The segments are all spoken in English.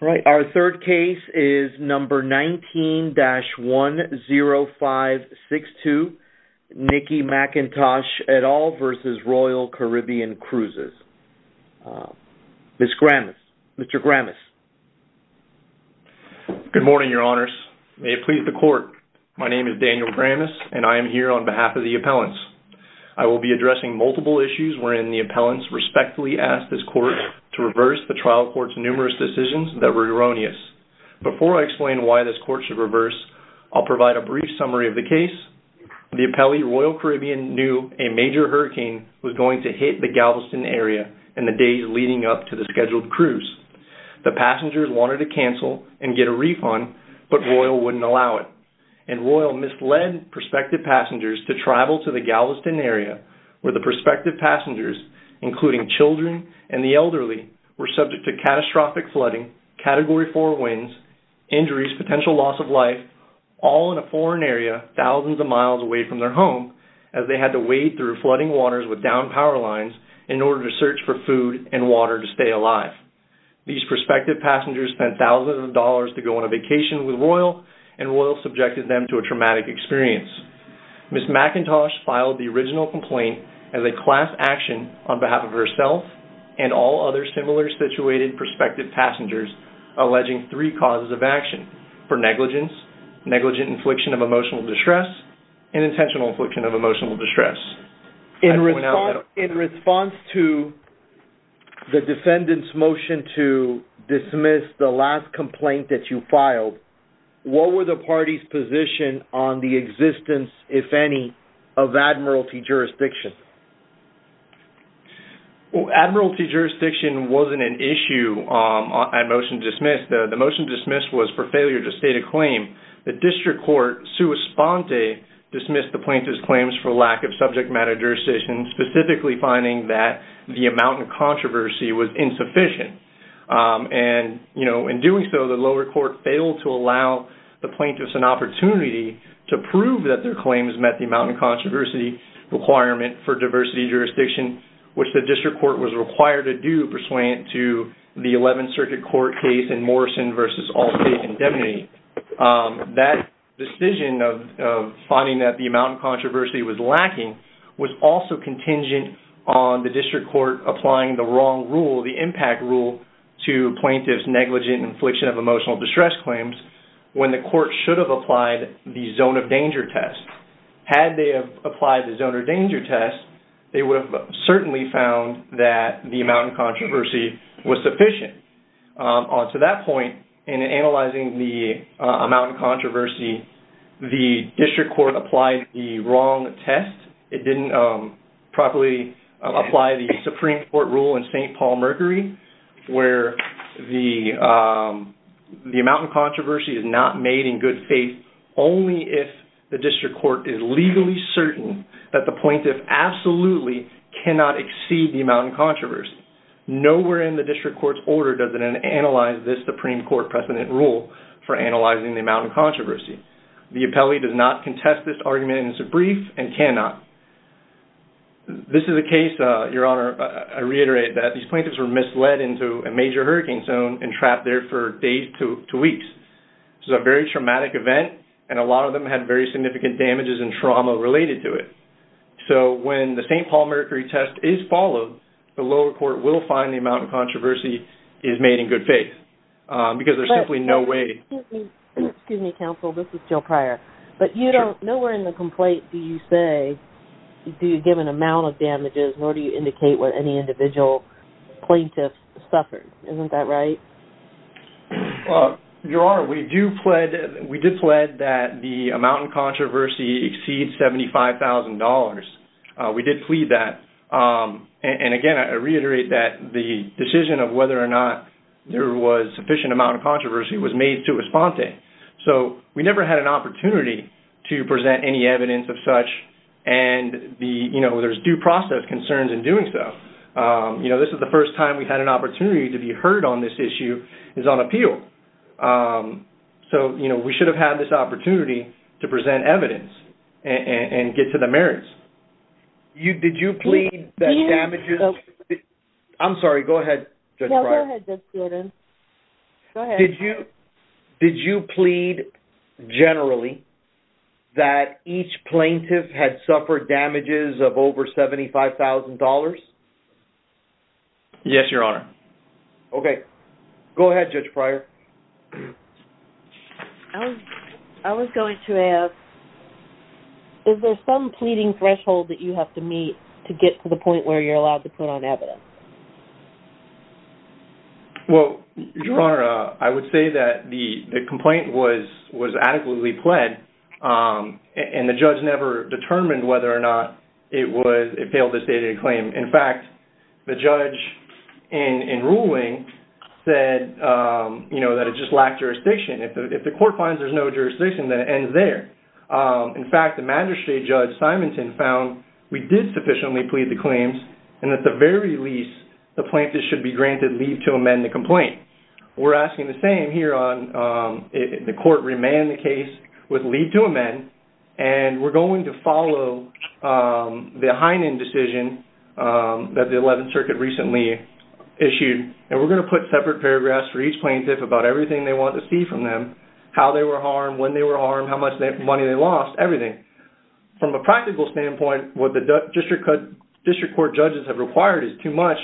All right, our third case is number 19-10562 Nikki McIntosh et al. v. Royal Caribbean Cruises. Ms. Gramis, Mr. Gramis. Good morning, your honors. May it please the court, my name is Daniel Gramis and I am here on behalf of the appellants. I will be addressing multiple issues wherein the appellants respectfully ask this court to reverse the trial court's numerous decisions that were erroneous. Before I explain why this court should reverse, I'll provide a brief summary of the case. The appellee, Royal Caribbean, knew a major hurricane was going to hit the Galveston area in the days leading up to the scheduled cruise. The passengers wanted to cancel and get a refund, but Royal wouldn't allow it. And Royal misled prospective passengers to travel to the Galveston area where the prospective passengers, including children and the elderly, were subject to catastrophic flooding, Category 4 winds, injuries, potential loss of life, all in a foreign area thousands of miles away from their home as they had to wade through flooding waters with downed power lines in order to search for food and water to stay alive. These prospective passengers spent thousands of dollars to go on a vacation with Royal and Royal subjected them to a traumatic experience. Ms. McIntosh filed the original complaint as a class action on behalf of herself and all other similar situated prospective passengers alleging three causes of action, for negligence, negligent infliction of emotional distress, and intentional infliction of emotional distress. In response to the defendant's motion to dismiss the last complaint that you filed, what were the parties' position on the existence, if any, of admiralty jurisdiction? Well, admiralty jurisdiction wasn't an issue at motion dismissed. The motion dismissed was for failure to state a claim. The district court, sua sponte, dismissed the plaintiff's claims for lack of subject matter jurisdiction, specifically finding that the amount of controversy was plaintiff's an opportunity to prove that their claims met the amount of controversy requirement for diversity jurisdiction, which the district court was required to do, pursuant to the 11th Circuit Court case in Morrison v. Allstate Indemnity. That decision of finding that the amount of controversy was lacking was also contingent on the district court applying the wrong rule, the impact rule, to plaintiff's negligent infliction of emotional distress claims when the court should have applied the zone of danger test. Had they applied the zone of danger test, they would have certainly found that the amount of controversy was sufficient. On to that point, in analyzing the amount of controversy, the district court applied the wrong test. It didn't properly apply the Supreme Court rule in St. Paul-Mercury, where the amount of controversy is not made in good faith only if the district court is legally certain that the plaintiff absolutely cannot exceed the amount of controversy. Nowhere in the district court's order does it analyze this Supreme Court precedent rule for analyzing the amount of controversy. The appellee does not contest this argument, and cannot. This is a case, Your Honor, I reiterate that these plaintiffs were misled into a major hurricane zone and trapped there for days to weeks. This is a very traumatic event, and a lot of them had very significant damages and trauma related to it. So when the St. Paul-Mercury test is followed, the lower court will find the amount of controversy is made in good faith, because there's simply no way... Excuse me, counsel, this is Jill Pryor. But nowhere in the complaint do you say, do you give an amount of damages, nor do you indicate what any individual plaintiff suffered. Isn't that right? Well, Your Honor, we did plead that the amount of controversy exceeds $75,000. We did plead that. And again, I reiterate that the So we never had an opportunity to present any evidence of such, and there's due process concerns in doing so. This is the first time we've had an opportunity to be heard on this issue is on appeal. So we should have had this opportunity to present evidence and get to the merits. Did you plead that damages... I'm sorry, go ahead, Judge Pryor. No, go ahead, Judge Jordan. Go ahead. Did you plead generally that each plaintiff had suffered damages of over $75,000? Yes, Your Honor. Okay. Go ahead, Judge Pryor. I was going to ask, is there some pleading threshold that you have to meet to get to the point where you're allowed to put on evidence? Well, Your Honor, I would say that the complaint was adequately pled and the judge never determined whether or not it failed to state a claim. In fact, the judge in ruling said that it just lacked jurisdiction. If the court finds there's no jurisdiction, then it ends there. In fact, the magistrate, Judge Simonton, found we did sufficiently plead the claims and at the very least, the plaintiff should be granted leave to amend the complaint. We're asking the same here. The court remanded the case with leave to amend and we're going to follow the Heinen decision that the 11th Circuit recently issued and we're going to put separate paragraphs for each plaintiff about everything they want to see from them, how they were harmed, when they were harmed, how much money they lost, everything. From a practical standpoint, what the district court judges have required is too much.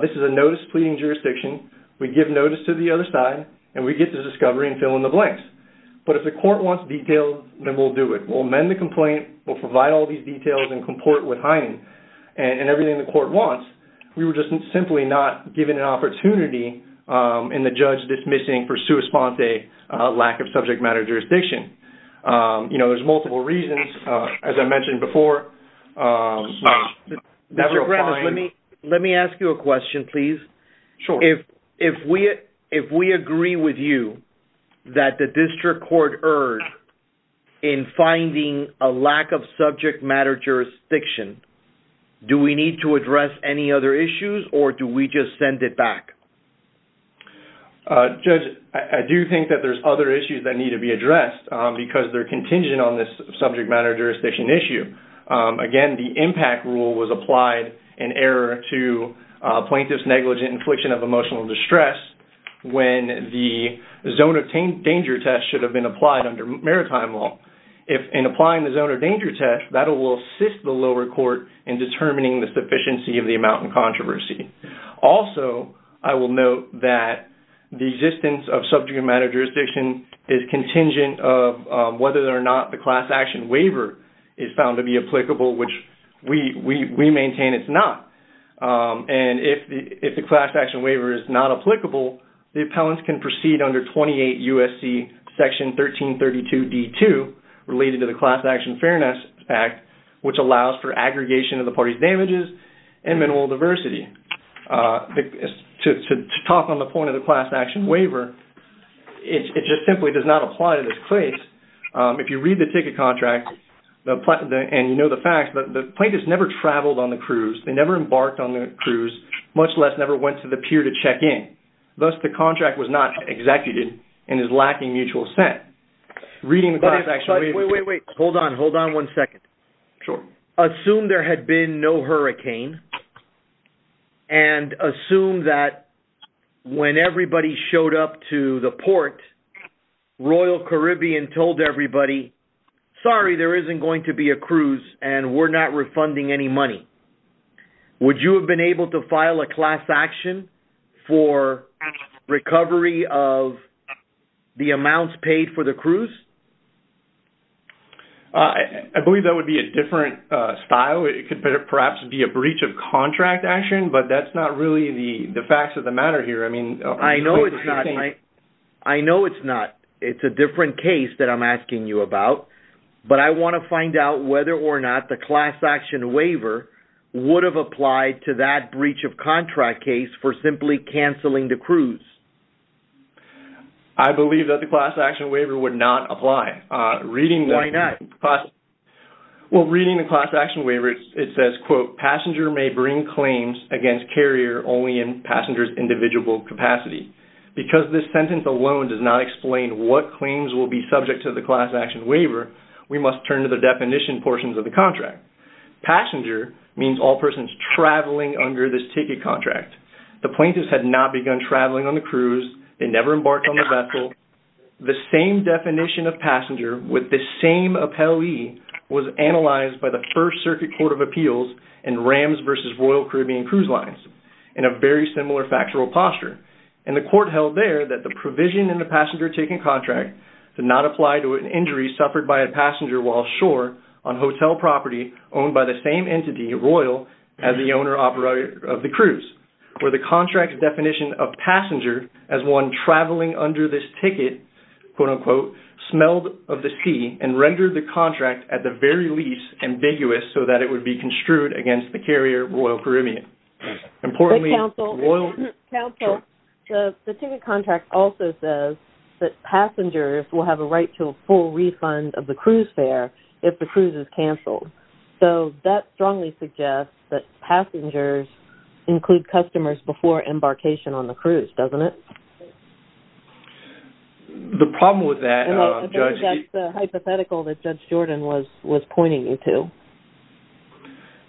This is a notice pleading jurisdiction. We give notice to the other side and we get the discovery and fill in the blanks. But if the court wants detail, then we'll do it. We'll amend the complaint. We'll provide all these details and comport with Heinen and everything the court wants. We were just simply not given an opportunity in the judge dismissing for sua sponte lack of subject matter jurisdiction. There's multiple reasons. As I mentioned before, never a fine. Let me ask you a question, please. If we agree with you that the district court erred in finding a lack of subject matter jurisdiction, do we need to address any other issues or do we just send it back? Judge, I do think that there's other issues that need to be addressed because they're contingent on this subject matter jurisdiction issue. Again, the impact rule was applied in error to plaintiff's negligent infliction of emotional distress when the zone of danger test should have been applied under maritime law. In applying the zone of danger test, that will assist the lower court in determining the sufficiency of the amount in controversy. Also, I will note that the existence of subject matter jurisdiction is contingent of whether or not the class action waiver is found to be applicable, which we maintain it's not. If the class action waiver is not applicable, the appellant can proceed under 28 USC section 1332 D2 related to the class action fairness act, which allows for aggregation of the party's damages and minimal adversity. To talk on the point of the class action waiver, it just simply does not apply to this case. If you read the ticket contract and you know the facts, the plaintiff's never traveled on the cruise. They never embarked on the cruise, much less never went to the pier to check in. Thus, the contract was not executed and is lacking mutual set. Reading the class action waiver- Wait, wait, wait. Hold on. Hold on one second. Sure. Assume there had been no hurricane and assume that when everybody showed up to the port, Royal Caribbean told everybody, sorry, there isn't going to be a cruise and we're not refunding any money. Would you have been able to file a class action for recovery of the amounts paid for the style? It could perhaps be a breach of contract action, but that's not really the facts of the matter here. I mean- I know it's not. I know it's not. It's a different case that I'm asking you about, but I want to find out whether or not the class action waiver would have applied to that breach of contract case for simply canceling the cruise. I believe that the class action waiver would not apply. Reading the- Why not? Well, reading the class action waiver, it says, quote, passenger may bring claims against carrier only in passenger's individual capacity. Because this sentence alone does not explain what claims will be subject to the class action waiver, we must turn to the definition portions of the contract. Passenger means all persons traveling under this ticket contract. The plaintiffs had not begun traveling on the cruise. They never embarked on the vessel. The same definition of passenger with the same appellee was analyzed by the First Circuit Court of Appeals and Rams versus Royal Caribbean Cruise Lines in a very similar factual posture. And the court held there that the provision in the passenger ticket contract did not apply to an injury suffered by a passenger while ashore on hotel property owned by the same entity, Royal, as the owner, operator of the cruise, where the contract's definition of passenger as one traveling under this ticket, quote, unquote, smelled of the sea and rendered the contract at the very least ambiguous so that it would be construed against the carrier, Royal Caribbean. Importantly- But counsel, counsel, the ticket contract also says that passengers will have a right to a full include customers before embarkation on the cruise, doesn't it? The problem with that, Judge- I think that's the hypothetical that Judge Jordan was pointing you to.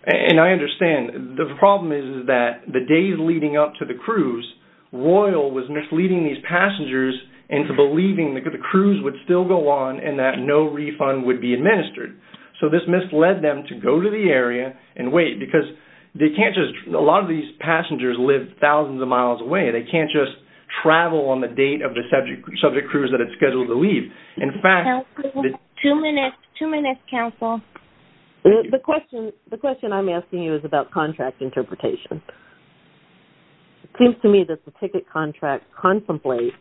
And I understand. The problem is that the days leading up to the cruise, Royal was misleading these passengers into believing that the cruise would still go on and that no refund would be allowed. A lot of these passengers live thousands of miles away. They can't just travel on the date of the subject cruise that it's scheduled to leave. In fact- Counsel, two minutes. Two minutes, counsel. The question I'm asking you is about contract interpretation. It seems to me that the ticket contract contemplates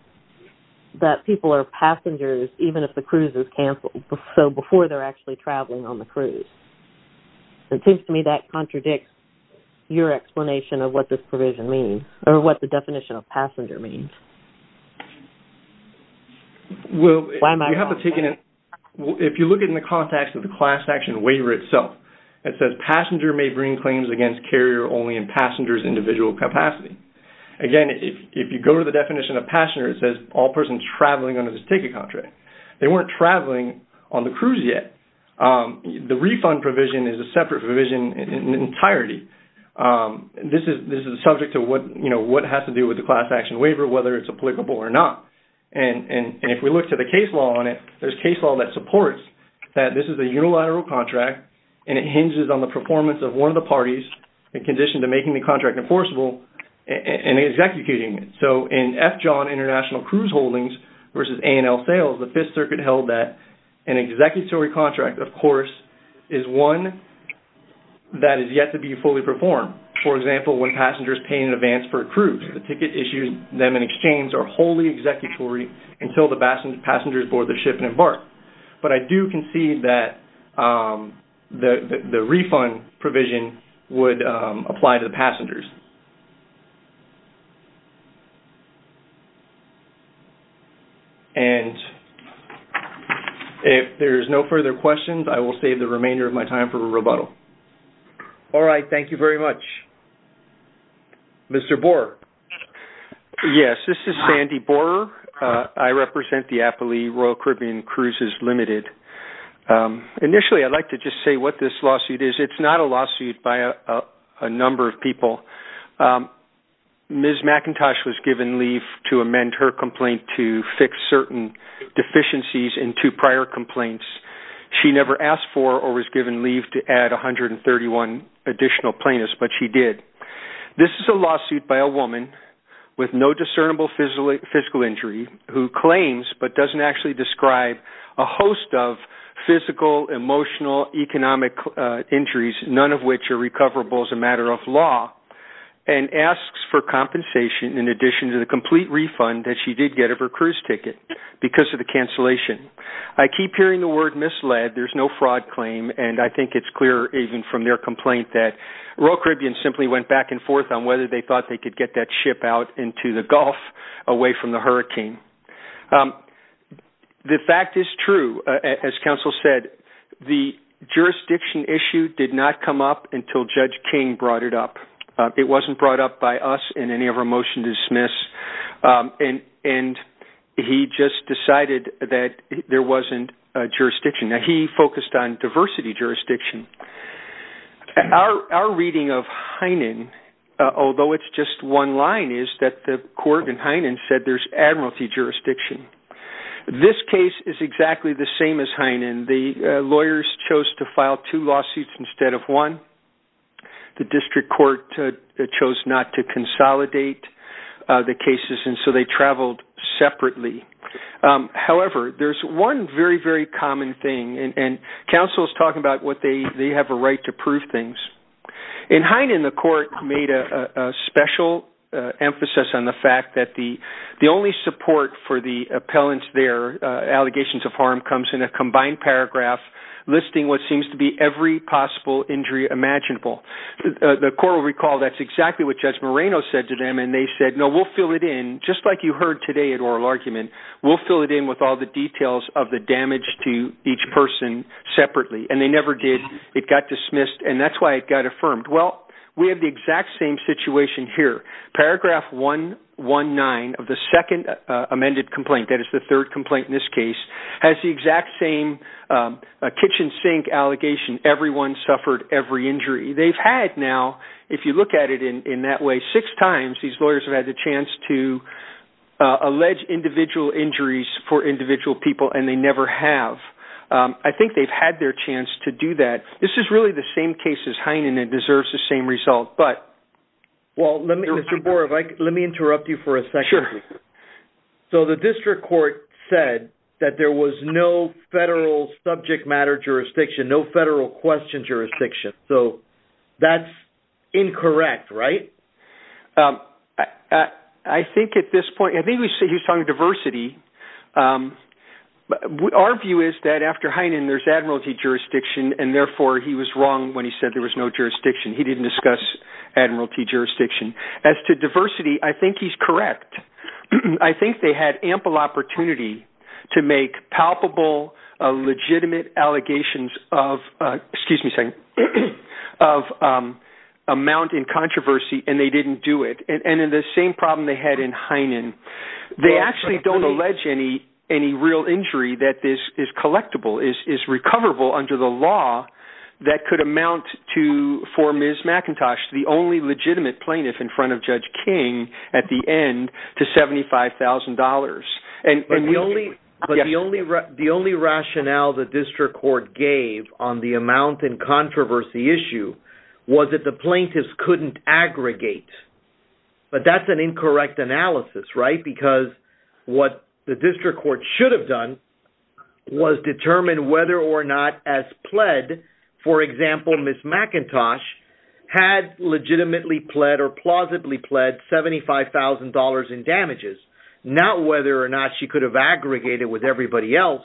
that people are passengers even if the cruise is canceled, so before they're actually traveling on the cruise. It seems to me that contradicts your explanation of what this provision means, or what the definition of passenger means. Why am I- Well, you have to take in- Well, if you look in the context of the class action waiver itself, it says passenger may bring claims against carrier only in passenger's individual capacity. Again, if you go to the definition of passenger, it says all persons traveling under this ticket contract. They weren't traveling on the cruise yet. The refund provision is a separate provision entirely. This is subject to what has to do with the class action waiver, whether it's applicable or not. If we look to the case law on it, there's case law that supports that this is a unilateral contract and it hinges on the performance of one of the parties in condition to making the contract enforceable and executing it. In F. John International Cruise Holdings versus A&L Sales, the Fifth Circuit held that an executory contract, of course, is one that is yet to be fully performed. For example, when passengers pay in advance for a cruise, the ticket issued them in exchange are wholly executory until the passengers board the ship and embark. But I do concede that the refund provision would apply to the passengers. And if there's no further questions, I will save the remainder of my time for rebuttal. All right. Thank you very much. Mr. Borer. Yes. This is Sandy Borer. I represent the Appalee Royal Caribbean Cruises Limited. Initially, I'd like to just say what this lawsuit is. It's not a lawsuit by a number of people. Ms. McIntosh was given leave to amend her complaint to fix certain deficiencies in two prior complaints. She never asked for or was given leave to add 131 additional plaintiffs, but she did. This is a lawsuit by a woman with no discernible physical injury who claims but doesn't actually describe a host of physical, emotional, economic injuries, none of which are recoverable as a matter of law, and asks for compensation in addition to the complete refund that she did get of her cruise ticket because of the cancellation. I keep hearing the word misled. There's no fraud claim. And I think it's clear even from their complaint that Royal Caribbean simply went back and forth on whether they thought they could get that ship out into the Gulf away from the hurricane. The fact is true, as counsel said, the jurisdiction issue did not come up until Judge King brought it up. It wasn't brought up by us in any of our motion to dismiss, and he just decided that there wasn't a jurisdiction. Now, he focused on diversity jurisdiction. Our reading of Heinen, although it's just one line, is that the court in Heinen said there's admiralty jurisdiction. This case is exactly the same as Heinen. The lawyers chose to file two lawsuits instead of one. The district court chose not to consolidate the cases, and so they traveled separately. However, there's one very, very common thing, and counsel is talking about what they have a right to prove things. In Heinen, the court made a special emphasis on the fact that the only support for the appellant's allegations of harm comes in a combined paragraph listing what seems to be every possible injury imaginable. The court will recall that's exactly what Judge Moreno said to them, and they said, no, we'll fill it in just like you heard today at oral argument. We'll fill it in with all the details of the damage to each person separately, and they never did. It got dismissed, and that's why it got affirmed. Well, we have the exact same situation here. Paragraph 119 of the second amended complaint, that is the third complaint in this case, has the exact same kitchen sink allegation, everyone suffered every injury. They've had now, if you look at it in that way, six times these lawyers have had the chance to allege individual injuries for individual people, and they never have. I think they've their chance to do that. This is really the same case as Heinen, and it deserves the same result, but... Well, let me... Mr. Boer, let me interrupt you for a second. Sure. So, the district court said that there was no federal subject matter jurisdiction, no federal question jurisdiction. So, that's incorrect, right? I think at this point, I think he was talking diversity. But our view is that after Heinen, there's admiralty jurisdiction, and therefore, he was wrong when he said there was no jurisdiction. He didn't discuss admiralty jurisdiction. As to diversity, I think he's correct. I think they had ample opportunity to make palpable, legitimate allegations of, excuse me a second, of amount in controversy, and they didn't do it. And in the same problem they had in Heinen, they actually don't allege any real injury that is collectible, is recoverable under the law that could amount to, for Ms. McIntosh, the only legitimate plaintiff in front of Judge King at the end to $75,000. But the only rationale the district court gave on the amount in controversy issue was that the plaintiffs couldn't aggregate. But that's an incorrect analysis, right? Because what the district court should have done was determine whether or not as pled, for example, Ms. McIntosh had legitimately pled or plausibly pled $75,000 in damages, not whether or not she could have aggregated with everybody else.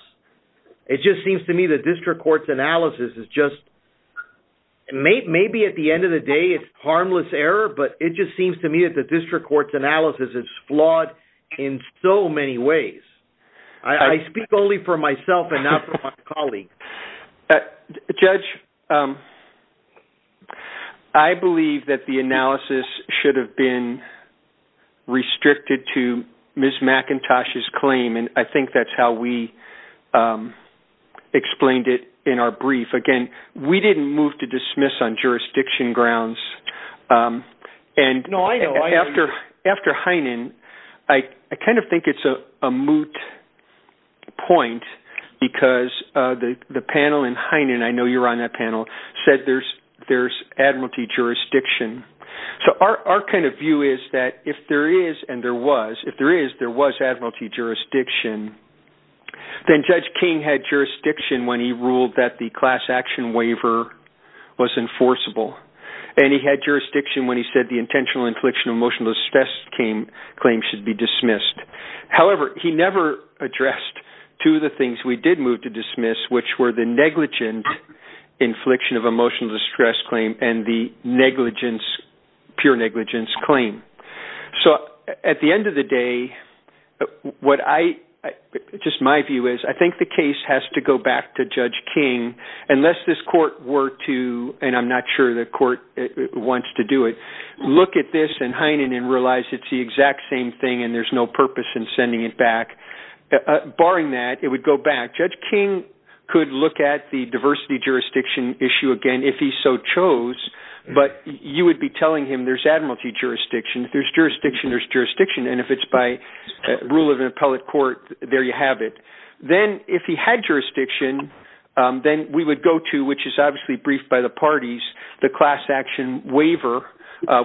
It just seems to me the district court's analysis is just maybe at the end of the day, it's harmless error, but it just seems to me that the district court's flawed in so many ways. I speak only for myself and not for my colleagues. Judge, I believe that the analysis should have been restricted to Ms. McIntosh's claim, and I think that's how we explained it in our brief. Again, we didn't move to dismiss on that. I kind of think it's a moot point because the panel in Heinen, I know you're on that panel, said there's admiralty jurisdiction. So our kind of view is that if there is and there was, if there is, there was admiralty jurisdiction, then Judge King had jurisdiction when he ruled that the class action waiver was enforceable. And he had jurisdiction when he said the intentional infliction of emotional distress claim should be dismissed. However, he never addressed two of the things we did move to dismiss, which were the negligent infliction of emotional distress claim and the negligence, pure negligence claim. So at the end of the day, what I, just my view is, I think the case has to go back to Judge King, unless this court were to, and I'm not sure the Heinen and realize it's the exact same thing and there's no purpose in sending it back. Barring that, it would go back. Judge King could look at the diversity jurisdiction issue again, if he so chose, but you would be telling him there's admiralty jurisdiction. If there's jurisdiction, there's jurisdiction. And if it's by rule of an appellate court, there you have it. Then if he had jurisdiction, then we would go to, which is obviously briefed by the parties, the class action waiver,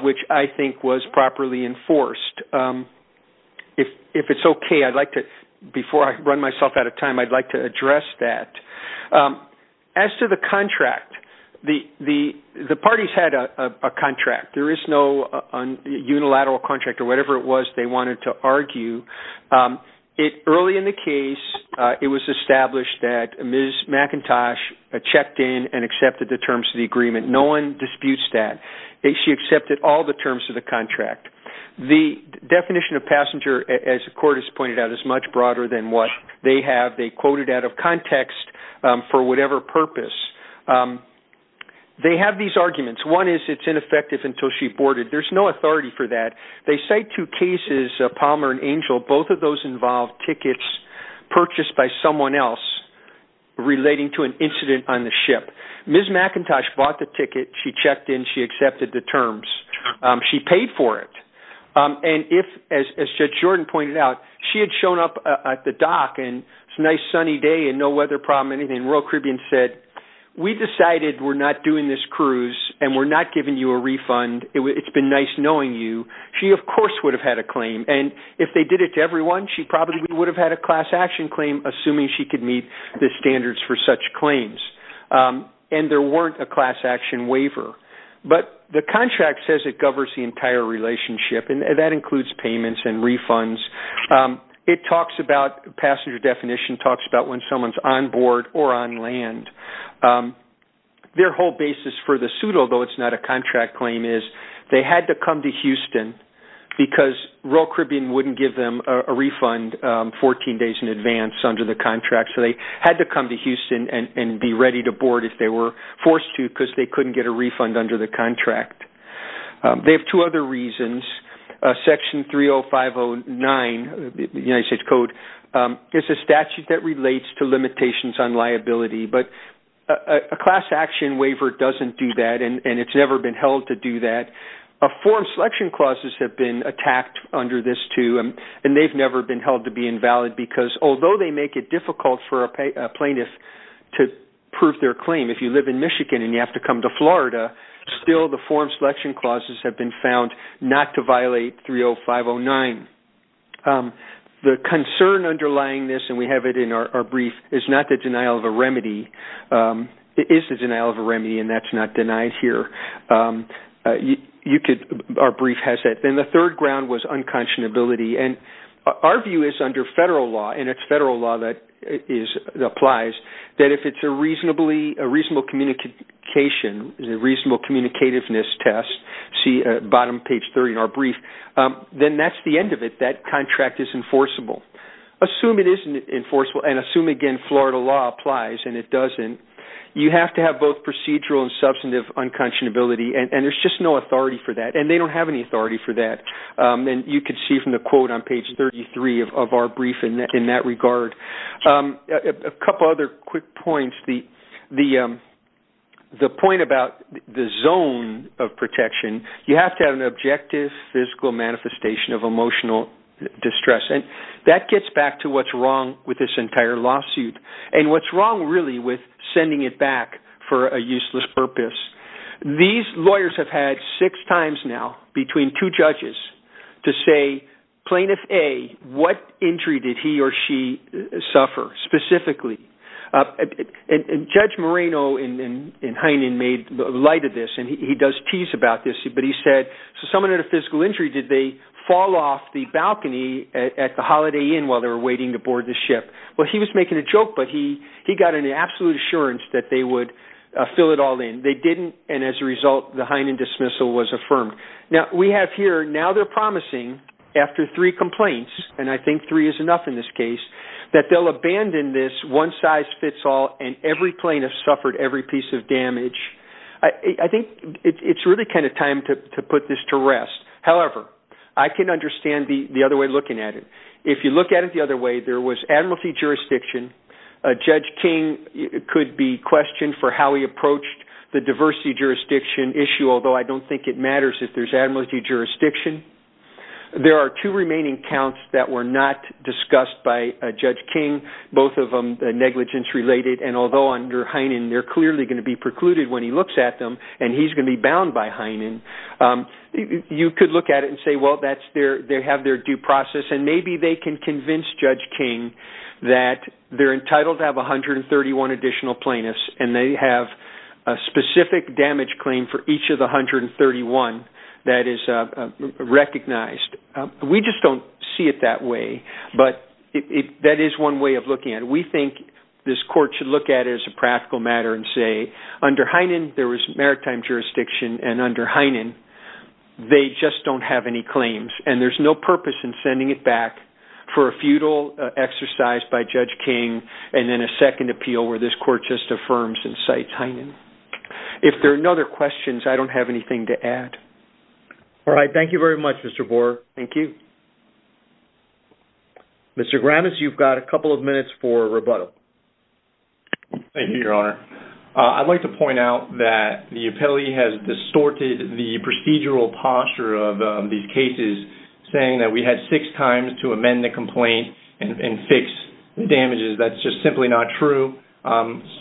which I think was properly enforced. If it's okay, I'd like to, before I run myself out of time, I'd like to address that. As to the contract, the parties had a contract. There is no unilateral contract or whatever it was they wanted to argue. Early in the case, it was established that Ms. McIntosh checked in and accepted the terms of that. She accepted all the terms of the contract. The definition of passenger, as the court has pointed out, is much broader than what they have. They quoted out of context for whatever purpose. They have these arguments. One is it's ineffective until she boarded. There's no authority for that. They cite two cases, Palmer and Angel. Both of those involved tickets purchased by someone else relating to an incident on the ship. Ms. McIntosh bought the ticket. She checked in. She accepted the terms. She paid for it. As Judge Jordan pointed out, she had shown up at the dock and it's a nice sunny day and no weather problem, anything. Royal Caribbean said, we decided we're not doing this cruise and we're not giving you a refund. It's been nice knowing you. She, of course, would have had a claim. And if they did it to everyone, she probably would have had a class action claim, assuming she could meet the standards for such claims. And there weren't a class action waiver. But the contract says it governs the entire relationship, and that includes payments and refunds. It talks about passenger definition, talks about when someone's on board or on land. Their whole basis for the suit, although it's not a contract claim, they had to come to Houston because Royal Caribbean wouldn't give them a refund 14 days in advance under the contract. So they had to come to Houston and be ready to board if they were forced to because they couldn't get a refund under the contract. They have two other reasons. Section 30509, the United States Code, is a statute that relates to limitations on liability. A class action waiver doesn't do that, and it's never been held to do that. Form selection clauses have been attacked under this, too, and they've never been held to be invalid because although they make it difficult for a plaintiff to prove their claim, if you live in Michigan and you have to come to Florida, still the form selection clauses have been found not to violate 30509. The concern underlying this, and we have it in our brief, is not the denial of a remedy. It is the denial of a remedy, and that's not denied here. Our brief has that. Then the third ground was unconscionability, and our view is under federal law, and it's federal law that applies, that if it's a reasonable communication, a reasonable communicativeness test, see bottom page 30 in our brief, then that's the end of it. That contract is enforceable. Assume it isn't enforceable, and assume again Florida law applies and it doesn't, you have to have both procedural and substantive unconscionability, and there's just no authority for that, and they don't have any authority for that. You can see from the quote on page 33 of our brief in that regard. A couple other quick points. The point about the zone of protection, you have to have an objective physical manifestation of emotional distress, and that gets back to what's wrong with this entire lawsuit, and what's wrong really with sending it back for a useless purpose. These lawyers have had six times now between two judges to say plaintiff A, what injury did he or she suffer specifically? Judge Moreno in Heinen made light of this, and he does tease about this, so someone had a physical injury, did they fall off the balcony at the Holiday Inn while they were waiting to board the ship? He was making a joke, but he got an absolute assurance that they would fill it all in. They didn't, and as a result, the Heinen dismissal was affirmed. We have here, now they're promising after three complaints, and I think three is enough in this case, that they'll abandon this one size fits all, and every plaintiff suffered every piece of to put this to rest. However, I can understand the other way looking at it. If you look at it the other way, there was admiralty jurisdiction. Judge King could be questioned for how he approached the diversity jurisdiction issue, although I don't think it matters if there's admiralty jurisdiction. There are two remaining counts that were not discussed by Judge King, both of them negligence related, and although under Heinen, they're clearly going to be you could look at it and say, well, they have their due process, and maybe they can convince Judge King that they're entitled to have 131 additional plaintiffs, and they have a specific damage claim for each of the 131 that is recognized. We just don't see it that way, but that is one way of looking at it. We think this court should look at it as a practical matter and say, under Heinen, there was maritime jurisdiction, and under Heinen, they just don't have any claims, and there's no purpose in sending it back for a feudal exercise by Judge King, and then a second appeal where this court just affirms and cites Heinen. If there are no other questions, I don't have anything to add. All right. Thank you very much, Mr. Boer. Thank you. Mr. Granitz, you've got a couple of minutes for rebuttal. Thank you, Your Honor. I'd like to point out that the appellee has distorted the procedural posture of these cases, saying that we had six times to amend the complaint and fix the damages. That's just simply not true.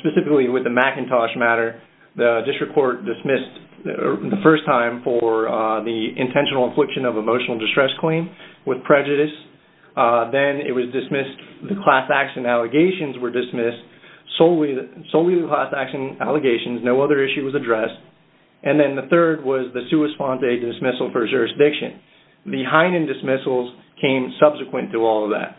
Specifically with the McIntosh matter, the district court dismissed the first time for the intentional infliction of emotional distress claim with prejudice. Then it was dismissed, the class action allegations were dismissed, solely the class action allegations, no other issue was addressed. And then the third was the sua sponte dismissal for jurisdiction. The Heinen dismissals came subsequent to all of that.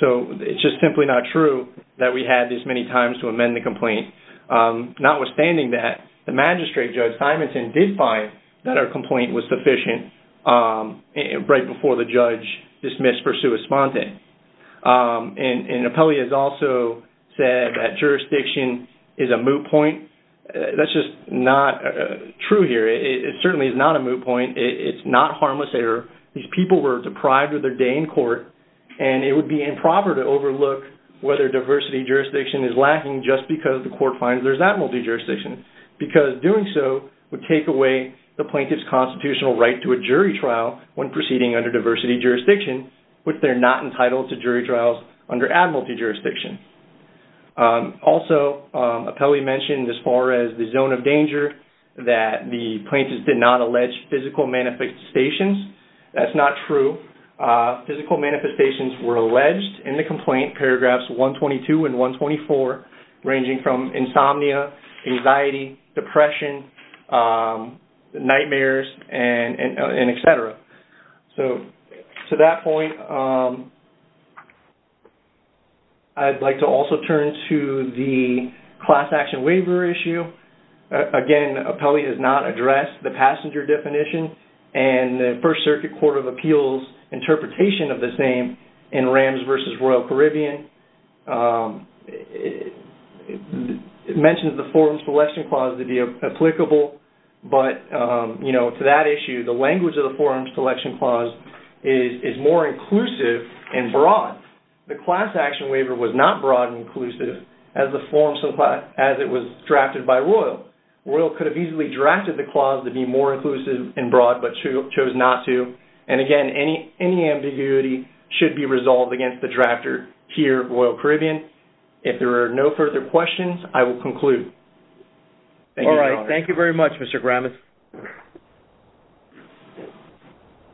So it's just simply not true that we had this many times to amend the complaint. Notwithstanding that, the magistrate, Judge Simonson, did find that our complaint was the judge dismissed for sua sponte. And an appellee has also said that jurisdiction is a moot point. That's just not true here. It certainly is not a moot point. It's not harmless error. These people were deprived of their day in court, and it would be improper to overlook whether diversity jurisdiction is lacking just because the court finds there's that multi-jurisdiction. Because doing so would take away the plaintiff's constitutional right to a jury trial when proceeding under diversity jurisdiction, which they're not entitled to jury trials under ad multi-jurisdiction. Also, appellee mentioned as far as the zone of danger that the plaintiffs did not allege physical manifestations. That's not true. Physical manifestations were alleged in the complaint, paragraphs 122 and 124, ranging from insomnia, anxiety, depression, nightmares, and et cetera. So to that point, I'd like to also turn to the class action waiver issue. Again, appellee has not addressed the passenger definition and the First Circuit Court of Appeals interpretation of the same in Rams v. Royal Caribbean. It mentions the forum selection clause to be applicable, but to that issue, the language of the forum selection clause is more inclusive and broad. The class action waiver was not broad and inclusive as it was drafted by Royal. Royal could have easily drafted the clause to be more inclusive and broad, but chose not to. And again, any ambiguity should be resolved against the drafter here, Royal Caribbean. If there are no further questions, I will conclude. Thank you, Your Honor. All right. Thank you very much, Mr. Gramis.